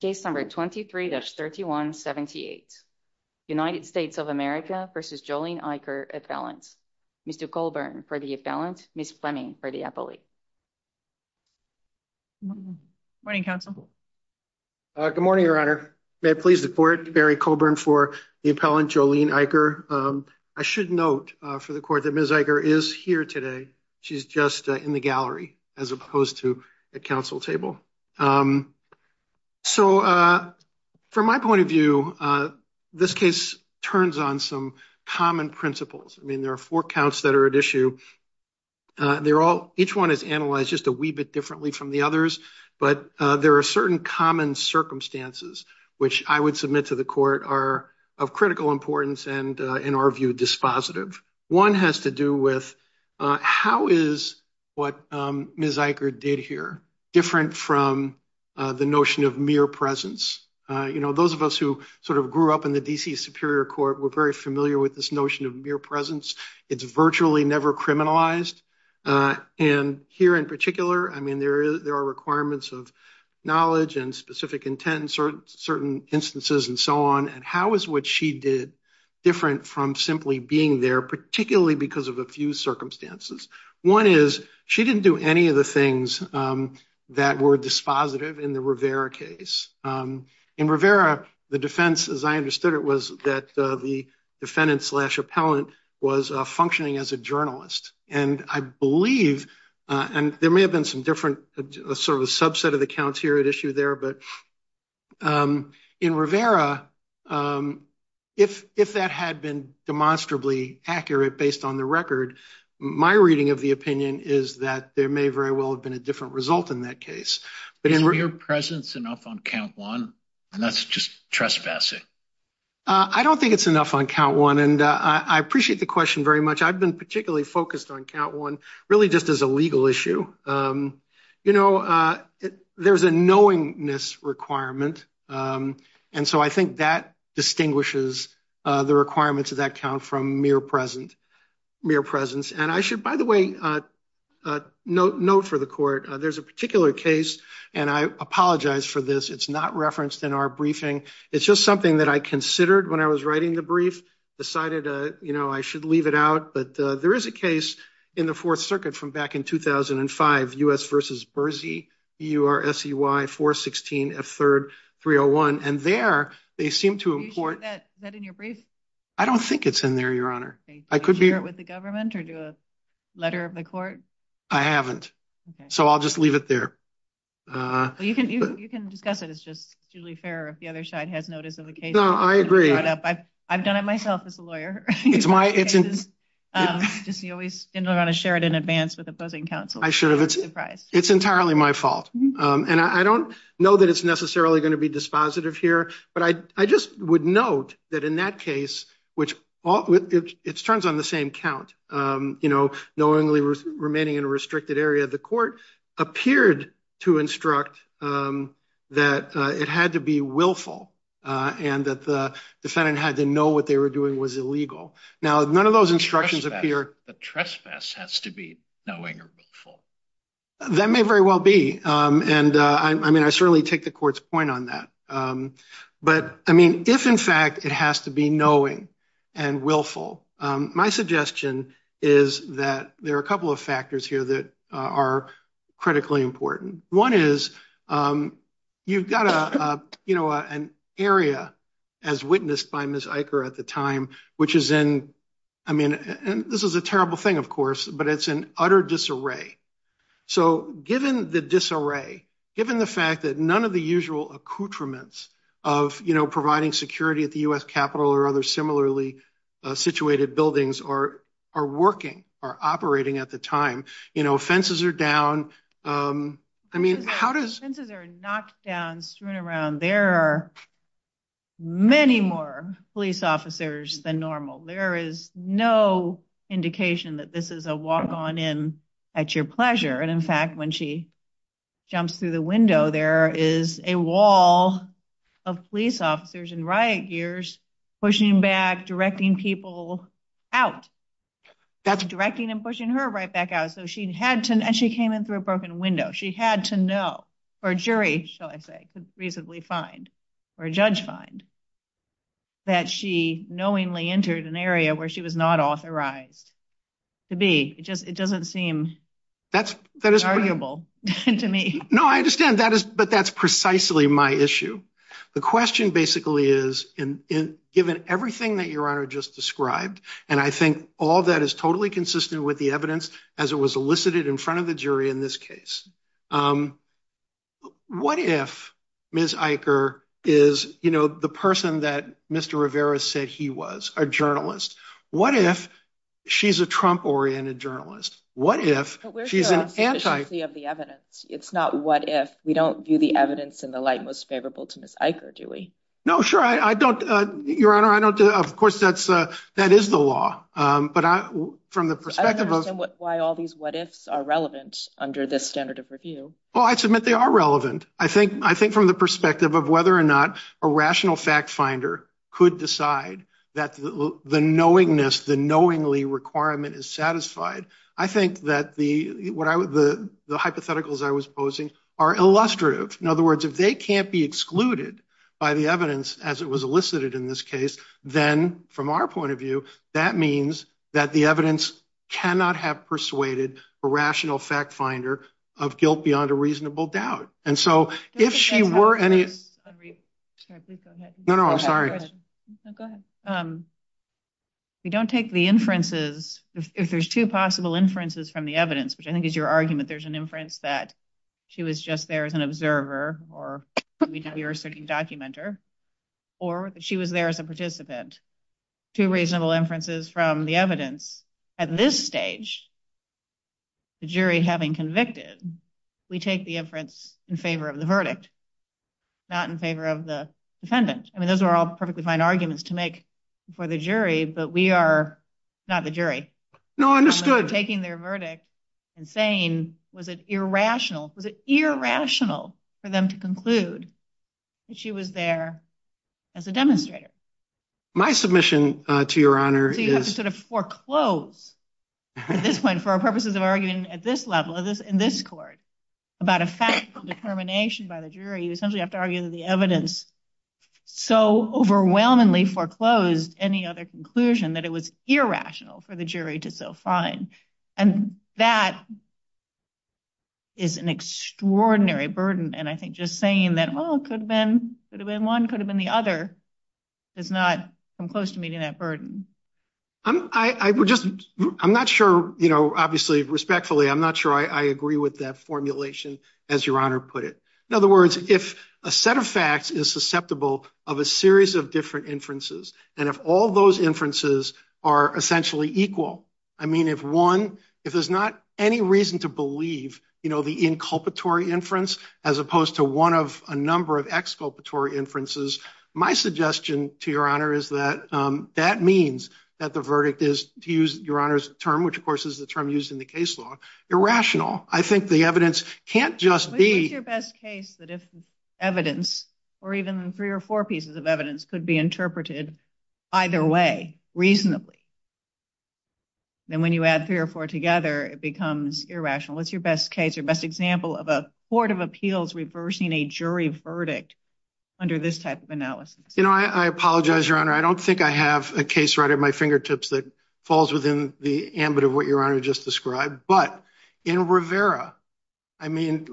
Case number 23-3178 United States of America v. Jolene Eicher, appellant. Mr. Colburn for the appellant, Ms. Fleming for the appellate. Good morning, counsel. Good morning, your honor. May it please the court, Mary Colburn for the appellant Jolene Eicher. I should note for the court that Ms. Eicher is here today. She's just in the gallery as opposed to a council table. So from my point of view, this case turns on some common principles. I mean, there are four counts that are at issue. Each one is analyzed just a wee bit differently from the others, but there are certain common circumstances which I would submit to the court are of critical importance and in our view dispositive. One has to do with how is what Ms. Eicher did here different from the notion of mere presence? You know, those of us who sort of grew up in the D.C. Superior Court were very familiar with this notion of mere presence. It's virtually never criminalized. And here in particular, I mean, there are requirements of knowledge and specific intent certain instances and so on. And how is what she did different from simply being there, particularly because of a few circumstances? One is she didn't do any of the things that were dispositive in the Rivera case. In Rivera, the defense as I understood it was that the defendant slash appellant was functioning as a journalist. And I believe and there may have been some sort of a subset of the counts here at issue there, but in Rivera, if that had been demonstrably accurate based on the record, my reading of the opinion is that there may very well have been a different result in that case. Is mere presence enough on count one? And that's just trespassing. I don't think it's enough on count one. And I appreciate the question very much. I've been particularly focused on count one really just as a legal issue. There's a knowingness requirement. And so I think that distinguishes the requirements of that count from mere presence. And I should, by the way, note for the court, there's a particular case and I apologize for this. It's not referenced in our briefing. It's just something that I considered when I was writing the brief, decided I should leave it out. But there is a case in the fourth circuit from back in 2005, U.S. versus Bersey, B-U-R-S-E-Y 416 F3rd 301. And there they seem to import. Is that in your brief? I don't think it's in there, Your Honor. I could be here with the government or do a letter of the court. I haven't. So I'll just leave it there. You can discuss it. It's just usually fair if the other side has notice of the case. No, I agree. I've done it myself as a lawyer. Just always didn't want to share it in advance with opposing counsel. I should have. It's entirely my fault. And I don't know that it's necessarily going to be dispositive here. But I just would note that in that case, which it turns on the same count, knowingly remaining in a restricted area, the court appeared to instruct that it had to be willful and that the defendant had to know what they were doing was illegal. Now, none of those instructions appear. The trespass has to be knowing or willful. That may very well be. And I mean, I certainly take the court's point on that. But I mean, if, in fact, it has to be knowing and willful, my suggestion is that there are a couple of factors here that are critically important. One is you've got an area as witnessed by Ms. Eicher at the time, which is in, I mean, and this is a terrible thing, of course, but it's an utter disarray. So given the disarray, given the fact that none of the usual accoutrements of providing security at the U.S. Capitol or other similarly situated buildings are working or operating at the time, you know, fences are down. I mean, how does... Fences are knocked down, strewn around. There are many more police officers than normal. There is no indication that this is a walk on in at your pleasure. And in fact, when she jumps through the window, there is a wall of police officers in riot gears pushing back, directing people out, directing and pushing her right back out. So she had to... And she came in through a broken window. She had to know, or a jury, shall I say, could reasonably find, or a judge find, that she knowingly entered an area where she was not authorized to be. It just, it doesn't seem... That's, that is... ...valuable to me. No, I understand. That is, but that's precisely my issue. The question basically is, given everything that Your Honor just described, and I think all that is totally consistent with the evidence as it was elicited in front of the jury in this case, what if Ms. Eicher is, you know, the person that Mr. Rivera said he was, a journalist? What if she's a Trump-oriented journalist? What if she's an anti... We're here on sufficiency of the evidence. It's not what if. We don't view the evidence in the light most favorable to Ms. Eicher, do we? No, sure. I don't... Your Honor, I don't... Of course, that is the law, but from the perspective of... I don't understand why all these what ifs are relevant under this standard of review. Well, I submit they are relevant. I think from the perspective of whether or not a rational fact finder could decide that the knowingness, the knowingly requirement is satisfied. I think that the hypotheticals I was posing are illustrative. In other words, if they can't be excluded by the evidence as it was elicited in this case, then from our point of view, that means that the evidence cannot have persuaded a rational fact finder of guilt beyond a reasonable doubt. And so if she were any... No, no, I'm sorry. No, go ahead. We don't take the inferences... If there's two possible inferences from the evidence, which I think is your argument, there's an inference that she was just there as an observer or a certain documenter, or that she was there as a participant. Two reasonable inferences from the evidence. At this stage, the jury having convicted, we take the inference in favor of the verdict, not in favor of the defendant. Those are all perfectly fine arguments to make for the jury, but we are not the jury. No, understood. We're taking their verdict and saying, was it irrational? Was it irrational for them to conclude that she was there as a demonstrator? My submission to your honor is... So you have to sort of foreclose at this point for our purposes of arguing at this level, in this court, about a factual determination by the jury. You essentially have to argue that the evidence so overwhelmingly foreclosed any other conclusion that it was irrational for the jury to so find. And that is an extraordinary burden. And I think just saying that, well, it could have been one, could have been the other, does not come close to meeting that burden. I'm not sure, obviously, respectfully, I'm not sure I agree with that formulation, as your honor put it. In other words, if a set of facts is susceptible of a series of different inferences, and if all those inferences are essentially equal, I mean, if one, if there's not any reason to believe the inculpatory inference, as opposed to one of a number of exculpatory inferences, my suggestion to your honor is that that means that the verdict is, to use your honor's term, which of course is the term used in the case law, irrational. I think the evidence can't just be... If evidence, or even three or four pieces of evidence, could be interpreted either way reasonably, then when you add three or four together, it becomes irrational. What's your best case, your best example of a court of appeals reversing a jury verdict under this type of analysis? You know, I apologize, your honor. I don't think I have a case right at my fingertips that falls within the ambit of what your honor just described. But in Rivera, I mean,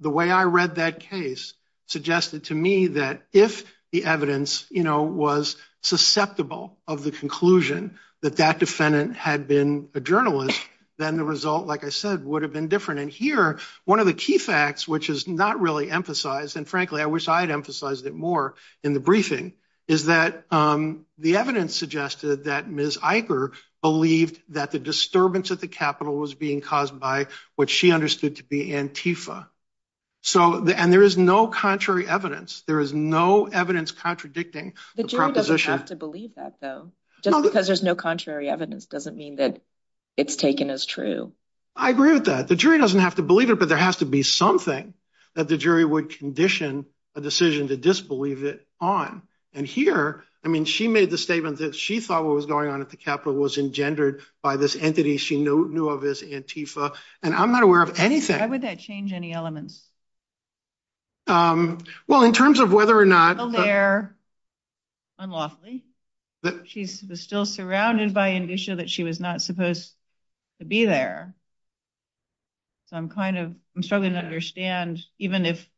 the way I read that case suggested to me that if the evidence, you know, was susceptible of the conclusion that that defendant had been a journalist, then the result, like I said, would have been different. And here, one of the key facts, which is not really emphasized, and frankly, I wish I had emphasized it more in the briefing, is that the evidence suggested that Ms. Eicher believed that the disturbance at the Capitol was being caused by what she understood to be Antifa. And there is no contrary evidence. There is no evidence contradicting the proposition. The jury doesn't have to believe that, though. Just because there's no contrary evidence doesn't mean that it's taken as true. I agree with that. The jury doesn't have to believe it, but there has to be something that the jury would condition a decision to disbelieve it on. And here, I mean, she made the statement that she thought what was going on at the Capitol was engendered by this entity she knew of as Antifa. And I'm not aware of anything— Why would that change any elements? Well, in terms of whether or not— A lair, unlawfully. She was still surrounded by an issue that she was not supposed to be there. So I'm kind of, I'm struggling to understand, even if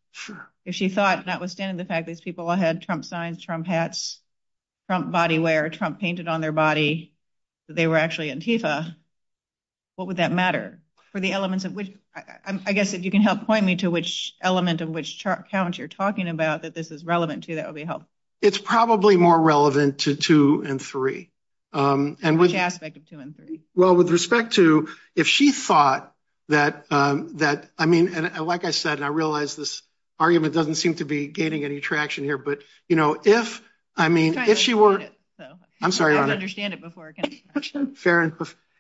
she thought, notwithstanding the fact that these people all had Trump signs, Trump hats, Trump bodywear, Trump painted on their body, that they were actually Antifa, what would that matter? For the elements of which— I guess if you can help point me to which element of which count you're talking about that this is relevant to, that would be helpful. It's probably more relevant to two and three. Which aspect of two and three? Well, with respect to if she thought that, I mean, like I said, and I realize this argument doesn't seem to be gaining any traction here, but, you know, if, I mean, if she were— I'm trying to understand it, though. I'm sorry, Your Honor. I don't understand it before. Farron,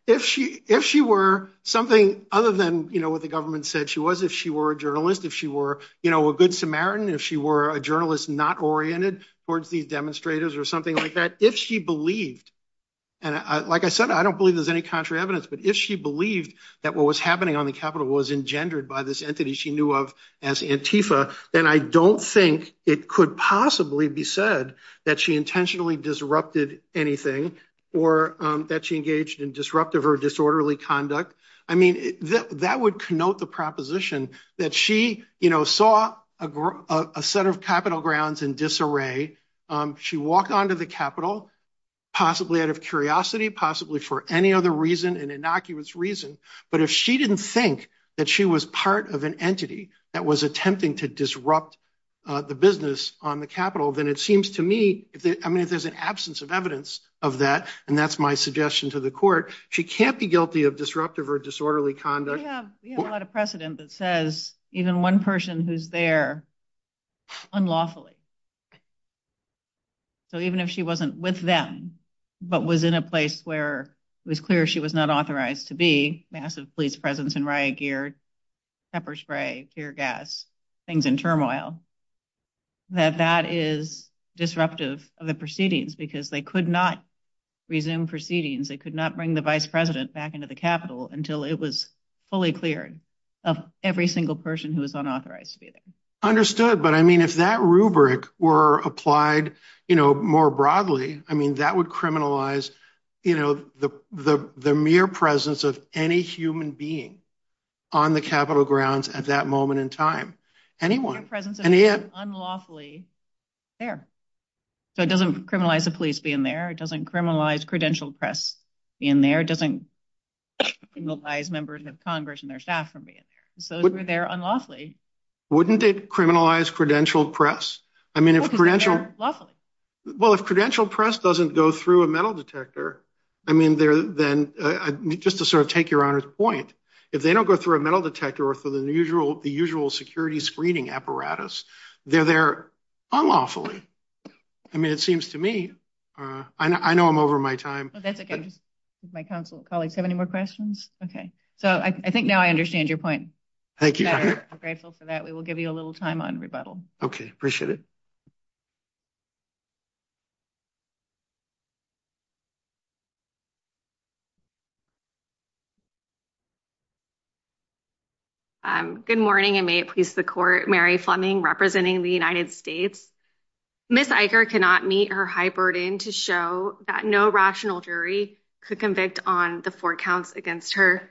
if she were something other than, you know, what the government said she was, if she were a journalist, if she were, you know, a good Samaritan, if she were a journalist not oriented towards these demonstrators or something like that, if she believed, and like I said, I don't believe there's any contrary evidence, but if she believed that what was happening on the Capitol was engendered by this entity she knew of as Antifa, then I don't think it could possibly be said that she intentionally disrupted anything or that she engaged in disruptive or disorderly conduct. I mean, that would connote the proposition that she, you know, saw a set of Capitol grounds in disarray. She walked onto the Capitol, possibly out of curiosity, possibly for any other reason, an innocuous reason, but if she didn't think that she was part of an entity that was attempting to disrupt the business on the Capitol, then it seems to me, I mean, if there's an absence of evidence of that, and that's my suggestion to the court, she can't be guilty of disruptive or disorderly conduct. We have a lot of precedent that says even one person who's there unlawfully, so even if she wasn't with them, but was in a place where it was clear she was not authorized to be, massive police presence in riot gear, pepper spray, tear gas, things in turmoil, that that is disruptive of the proceedings because they could not resume proceedings. They could not bring the vice president back into the Capitol until it was fully cleared of every single person who was unauthorized to be there. Understood, but I mean, if that rubric were applied, you know, more broadly, I mean, that would criminalize, you know, the mere presence of any human being on the Capitol grounds at that moment in time, anyone. The mere presence of anyone unlawfully there. So it doesn't criminalize the police being there. It doesn't criminalize credentialed press being there. It doesn't criminalize members of Congress and their staff from being there. So if we're there unlawfully. Wouldn't it criminalize credentialed press? I mean, if credentialed... Unlawfully. I mean, then just to sort of take your honor's point, if they don't go through a metal detector or through the usual security screening apparatus, they're there unlawfully. I mean, it seems to me, I know I'm over my time. Oh, that's okay. My council colleagues have any more questions? Okay. So I think now I understand your point. Thank you. I'm grateful for that. We will give you a little time on rebuttal. Okay. Appreciate it. Good morning and may it please the court. Mary Fleming representing the United States. Ms. Eicher cannot meet her high burden to show that no rational jury could convict on the four counts against her.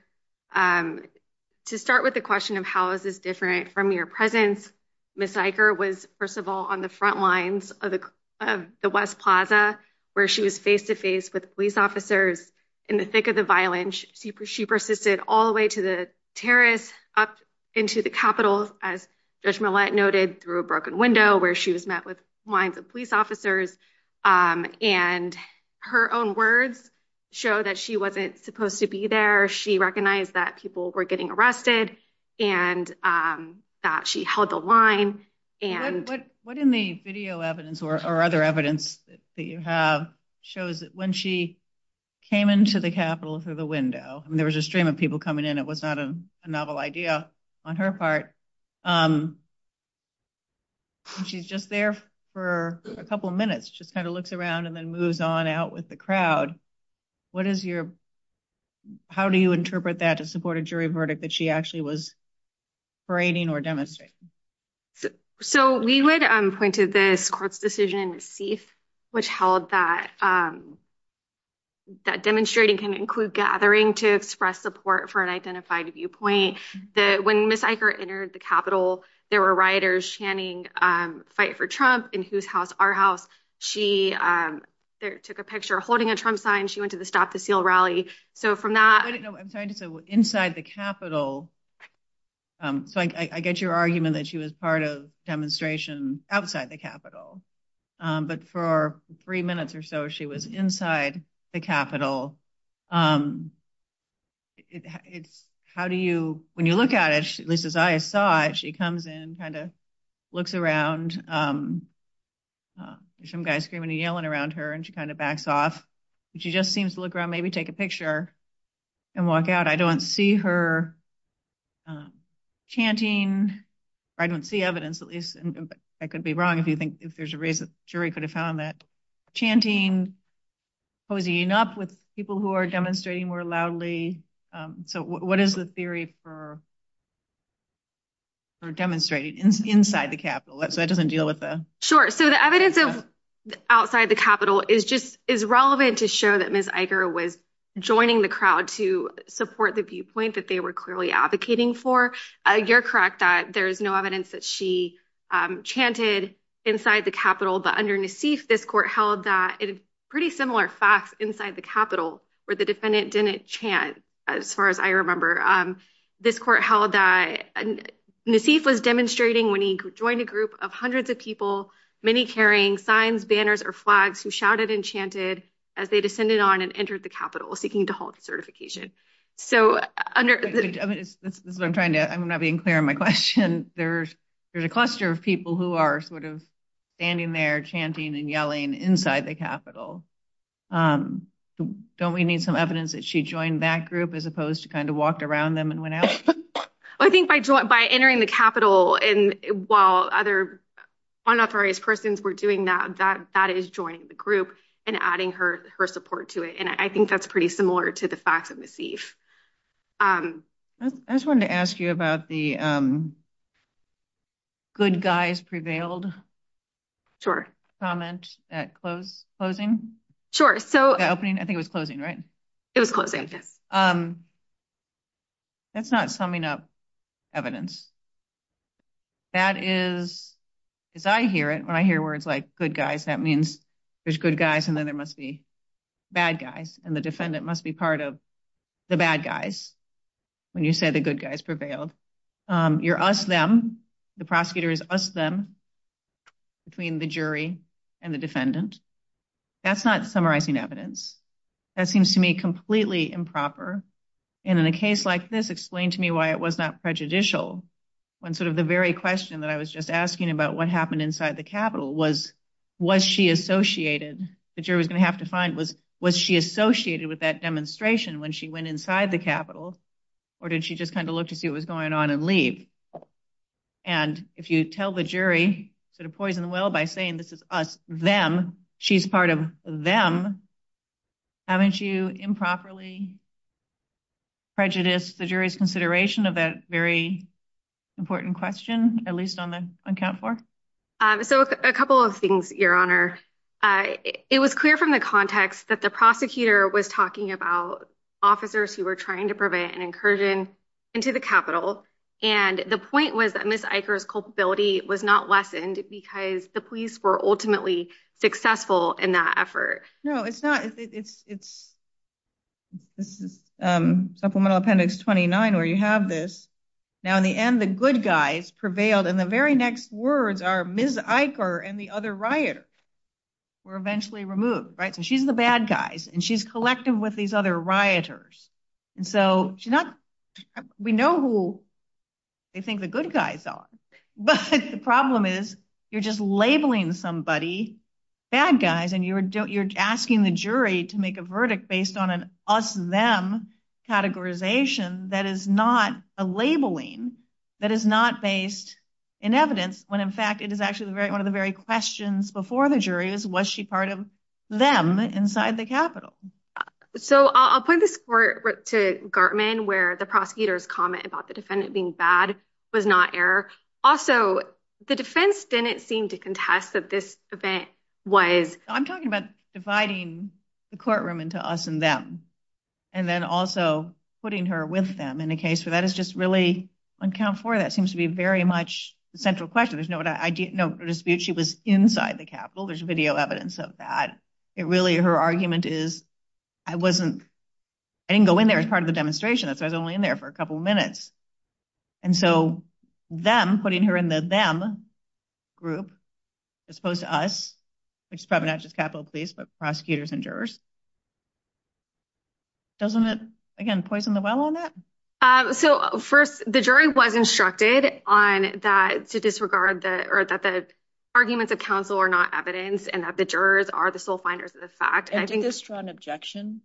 To start with the question of how is this different from your presence, Ms. Eicher was first of all, on the front lines of the West Plaza, where she was face to face with police officers in the thick of the violence. She persisted all the way to the terrace up into the Capitol, as Judge Millett noted, through a broken window where she was met with lines of police officers. And her own words show that she wasn't supposed to be there. She recognized that people were getting arrested and that she held the line. And what in the video evidence or other evidence that you have shows that when she came into the Capitol through the window, there was a stream of people coming in. It was not a novel idea on her part. She's just there for a couple of minutes, just kind of looks around and then moves on out with the crowd. What is your, how do you interpret that to support a jury verdict that she actually was parading or demonstrating? So we would point to this court's decision, which held that demonstrating can include gathering to express support for an identified viewpoint that when Ms. Eicher entered the Capitol, there were rioters chanting, fight for Trump in whose house? Our house. She took a picture holding a Trump sign. She went to the Stop the Seal rally. So from that, I'm trying to say inside the Capitol. So I get your argument that she was part of demonstration outside the Capitol, but for three minutes or so, she was inside the Capitol. It's how do you, when you look at it, at least as I saw it, she comes in, kind of looks around, some guys screaming and yelling around her and she kind of backs off. She just seems to look around, maybe take a picture and walk out. I don't see her chanting. I don't see evidence, at least I could be wrong if you think if there's a race, the jury could have found that chanting, posing up with people who are demonstrating more loudly. So what is the theory for demonstrating inside the Capitol? So that doesn't deal with the. Sure. So the evidence of outside the Capitol is just is relevant to show that Ms. Eicher was joining the crowd to support the viewpoint that they were clearly advocating for. You're correct that there is no evidence that she chanted inside the Capitol, but under Nassif, this court held that pretty similar facts inside the Capitol where the defendant didn't chant. As far as I remember, this court held that Nassif was demonstrating when he joined a group of hundreds of people, many carrying signs, banners or flags who shouted and chanted as they descended on and entered the Capitol seeking to halt the certification. So I'm trying to I'm not being clear on my question. There's there's a cluster of people who are sort of standing there chanting and yelling inside the Capitol. Don't we need some evidence that she joined that group as opposed to kind of walked around them and went out? I think by entering the Capitol and while other unauthorized persons were doing that, that is joining the group and adding her her support to it. And I think that's pretty similar to the facts of Nassif. I just wanted to ask you about the. Good guys prevailed. Sure. Comment at close closing. So opening. I think it was closing, right? It was closing. That's not summing up evidence. That is, as I hear it, when I hear words like good guys, that means there's good guys and then there must be bad guys and the defendant must be part of the bad guys. When you say the good guys prevailed, you're us them. The prosecutor is us them between the jury and the defendant. That's not summarizing evidence. That seems to me completely improper. And in a case like this, explain to me why it was not prejudicial when sort of the very question that I was just asking about what happened inside the Capitol was, was she associated? The jury was going to have to find was, was she associated with that demonstration when she went inside the Capitol or did she just kind of look to see what was going on and leave? And if you tell the jury sort of poison the well by saying this is us them, she's part of them. Haven't you improperly prejudiced the jury's consideration of that very important question, at least on the account for. So a couple of things, Your Honor. It was clear from the context that the prosecutor was talking about officers who were trying to prevent an incursion into the Capitol. And the point was that Miss Iker's culpability was not lessened because the police were ultimately successful in that effort. No, it's not. This is Supplemental Appendix 29 where you have this. Now, in the end, the good guys prevailed. And the very next words are Miss Iker and the other rioter were eventually removed, right? So she's the bad guys and she's collective with these other rioters. And so she's not, we know who they think the good guys are, but the problem is you're labeling somebody bad guys and you're asking the jury to make a verdict based on an us them categorization that is not a labeling that is not based in evidence when, in fact, it is actually one of the very questions before the jury is was she part of them inside the Capitol? So I'll point this to Gartman where the prosecutor's comment about the defendant being bad was not error. Also, the defense didn't seem to contest that this event was. I'm talking about dividing the courtroom into us and them and then also putting her with them in a case where that is just really uncount for. That seems to be very much the central question. There's no dispute. She was inside the Capitol. There's video evidence of that. It really, her argument is I wasn't, I didn't go in there as part of the demonstration. That's why I was only in there for a couple of minutes. And so them putting her in the them group as opposed to us, which is probably not just Capitol Police, but prosecutors and jurors. Doesn't it, again, poison the well on that? So first, the jury was instructed on that to disregard that or that the arguments of counsel are not evidence and that the jurors are the sole finders of the fact. I think this strong objection.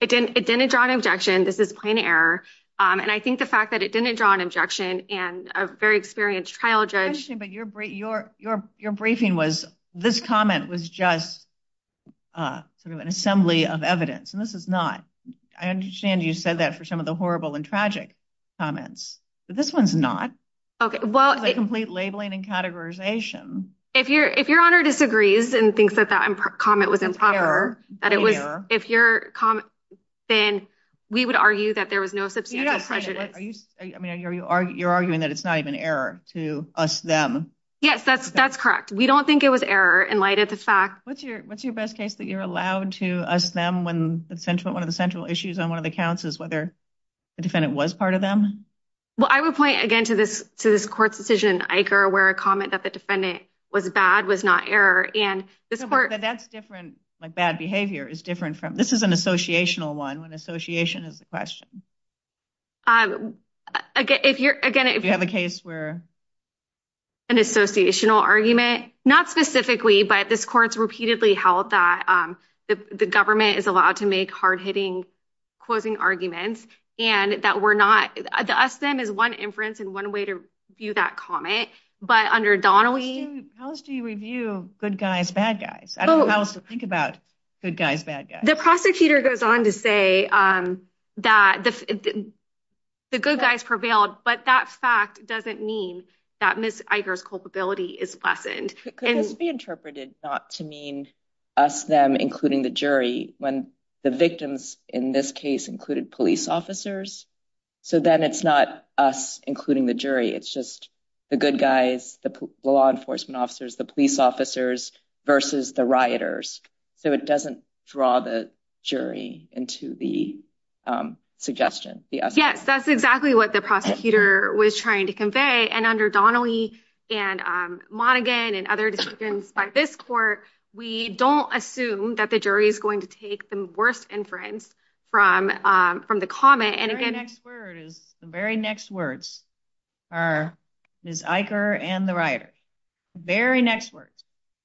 It didn't. It didn't draw an objection. This is plain error. And I think the fact that it didn't draw an objection and a very experienced trial judge. But your brief, your, your, your briefing was this comment was just sort of an assembly of evidence. And this is not. I understand you said that for some of the horrible and tragic comments, but this one's not. OK, well, a complete labeling and categorization. If you're if your honor disagrees and thinks that that comment was improper, that it was if your comment, then we would argue that there was no substantive prejudice. Are you I mean, are you are you're arguing that it's not even error to us them? Yes, that's that's correct. We don't think it was error in light of the fact. What's your what's your best case that you're allowed to us them when the central one of the central issues on one of the counts is whether the defendant was part of them? Well, I would point again to this to this court's decision, Iker, where a comment that the defendant was bad was not error. And that's different. Like bad behavior is different from this is an associational one when association is a If you're again, if you have a case where. An associational argument, not specifically, but this court's repeatedly held that the government is allowed to make hard hitting, closing arguments and that we're not us them is one inference and one way to view that comment. But under Donnelly. How do you review good guys, bad guys? I don't think about good guys, bad guys. The prosecutor goes on to say that the good guys prevailed, but that fact doesn't mean that Miss Iker's culpability is lessened. Could this be interpreted not to mean us them, including the jury when the victims in this case included police officers. So then it's not us, including the jury. It's just the good guys, the law enforcement officers, the police officers versus the rioters. So it doesn't draw the jury into the suggestion. Yes, that's exactly what the prosecutor was trying to convey. And under Donnelly and Monaghan and other decisions by this court, we don't assume that the jury is going to take the worst inference from from the comment. And again, next word is the very next words are Miss Iker and the rioters. Very next words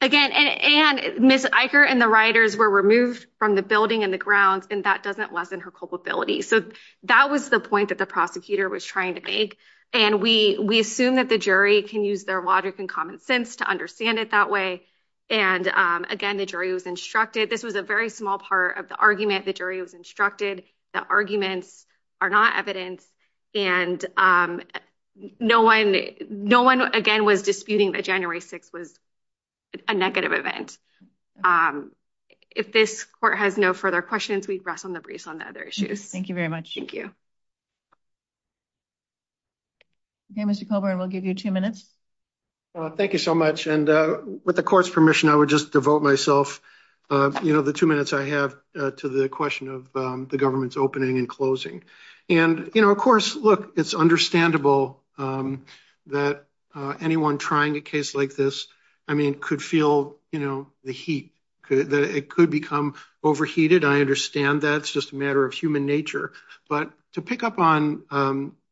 again. And Miss Iker and the rioters were removed from the building and the grounds, and that doesn't lessen her culpability. So that was the point that the prosecutor was trying to make. And we we assume that the jury can use their logic and common sense to understand it that way. And again, the jury was instructed. This was a very small part of the argument. The jury was instructed. The arguments are not evidence. And no one no one, again, was disputing that January six was a negative event. If this court has no further questions, we'd rest on the briefs on the other issues. Thank you very much. Thank you. Okay, Mr. Coburn, we'll give you two minutes. Thank you so much. And with the court's permission, I would just devote myself, you know, the two minutes I have to the question of the government's opening and closing. And, you know, of course, look, it's understandable that anyone trying a case like this, I mean, could feel, you know, the heat that it could become overheated. I understand that's just a matter of human nature. But to pick up on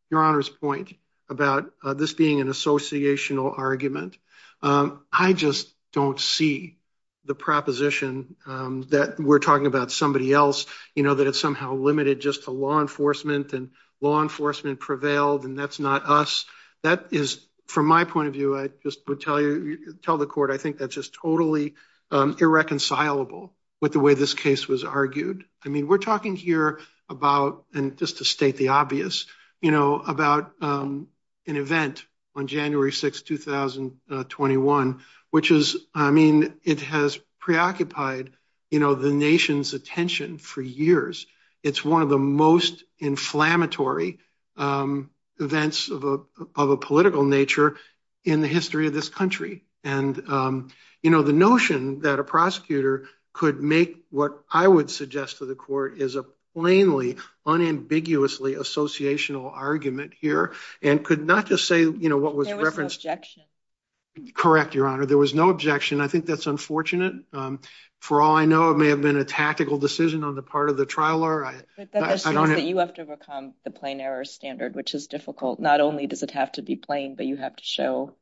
your honor's point about this being an associational argument, I just don't see the proposition that we're talking about somebody else, you know, that it's somehow limited just to law enforcement and law enforcement prevailed. And that's not us. That is, from my point of view, I just would tell you tell the court, I think that's just totally irreconcilable with the way this case was argued. I mean, we're talking here about and just to state the obvious, you know, about an event on January 6th, 2021, which is, I mean, it has preoccupied, you know, the nation's attention for years. It's one of the most inflammatory events of a political nature in the history of this country. And, you know, the notion that a prosecutor could make what I would suggest to the court is a plainly, unambiguously associational argument here and could not just say, you know, what was referenced. There was no objection. Correct, your honor. There was no objection. I think that's unfortunate. For all I know, it may have been a tactical decision on the part of the trial law. But that just means that you have to overcome the plain error standard, which is difficult. Not only does it have to be plain, but you have to show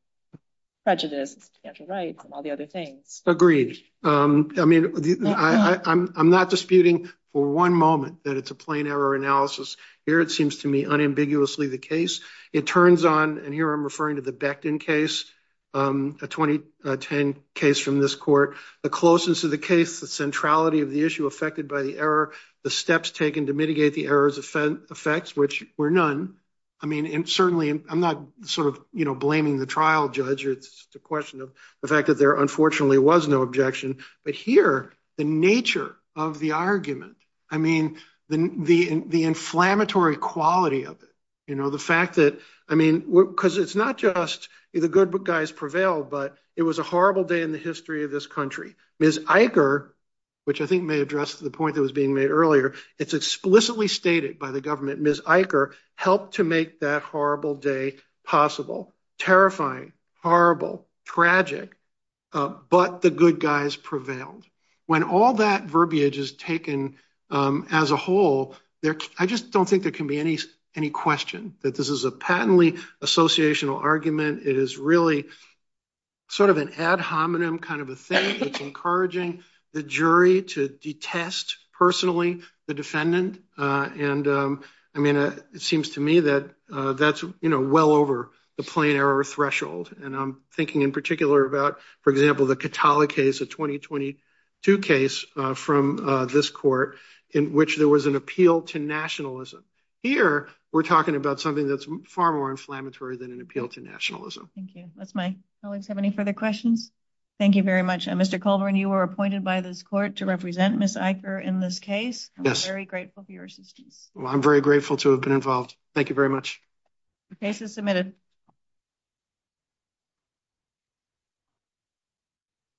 prejudice, financial rights, and all the other things. Agreed. I mean, I'm not disputing for one moment that it's a plain error analysis. Here, it seems to me unambiguously the case. It turns on, and here I'm referring to the Becton case, a 2010 case from this court. The closeness of the case, the centrality of the issue affected by the error, the steps taken to mitigate the errors effects, which were none. I mean, and certainly I'm not sort of, you know, blaming the trial judge. It's just a question of the fact that there unfortunately was no objection. But here, the nature of the argument, I mean, the inflammatory quality of it, you know, the fact that, I mean, because it's not just the good guys prevailed, but it was a horrible day in the history of this country. Ms. Eicher, which I think may address the point that was being made earlier, it's explicitly stated by the government, Ms. Eicher helped to make that horrible day possible. Terrifying, horrible, tragic, but the good guys prevailed. When all that verbiage is taken as a whole, I just don't think there can be any question that this is a patently associational argument. It is really sort of an ad hominem kind of a thing that's encouraging the jury to detest personally the defendant. And I mean, it seems to me that that's, you know, well over the plain error threshold. And I'm thinking in particular about, for example, the Katala case, a 2022 case from this court in which there was an appeal to nationalism. Here, we're talking about something that's far more inflammatory than an appeal to nationalism. Thank you. Does my colleagues have any further questions? Thank you very much. Mr. Colburn, you were appointed by this court to represent Ms. Eicher in this case. I'm very grateful for your assistance. I'm very grateful to have been involved. Thank you very much. The case is submitted.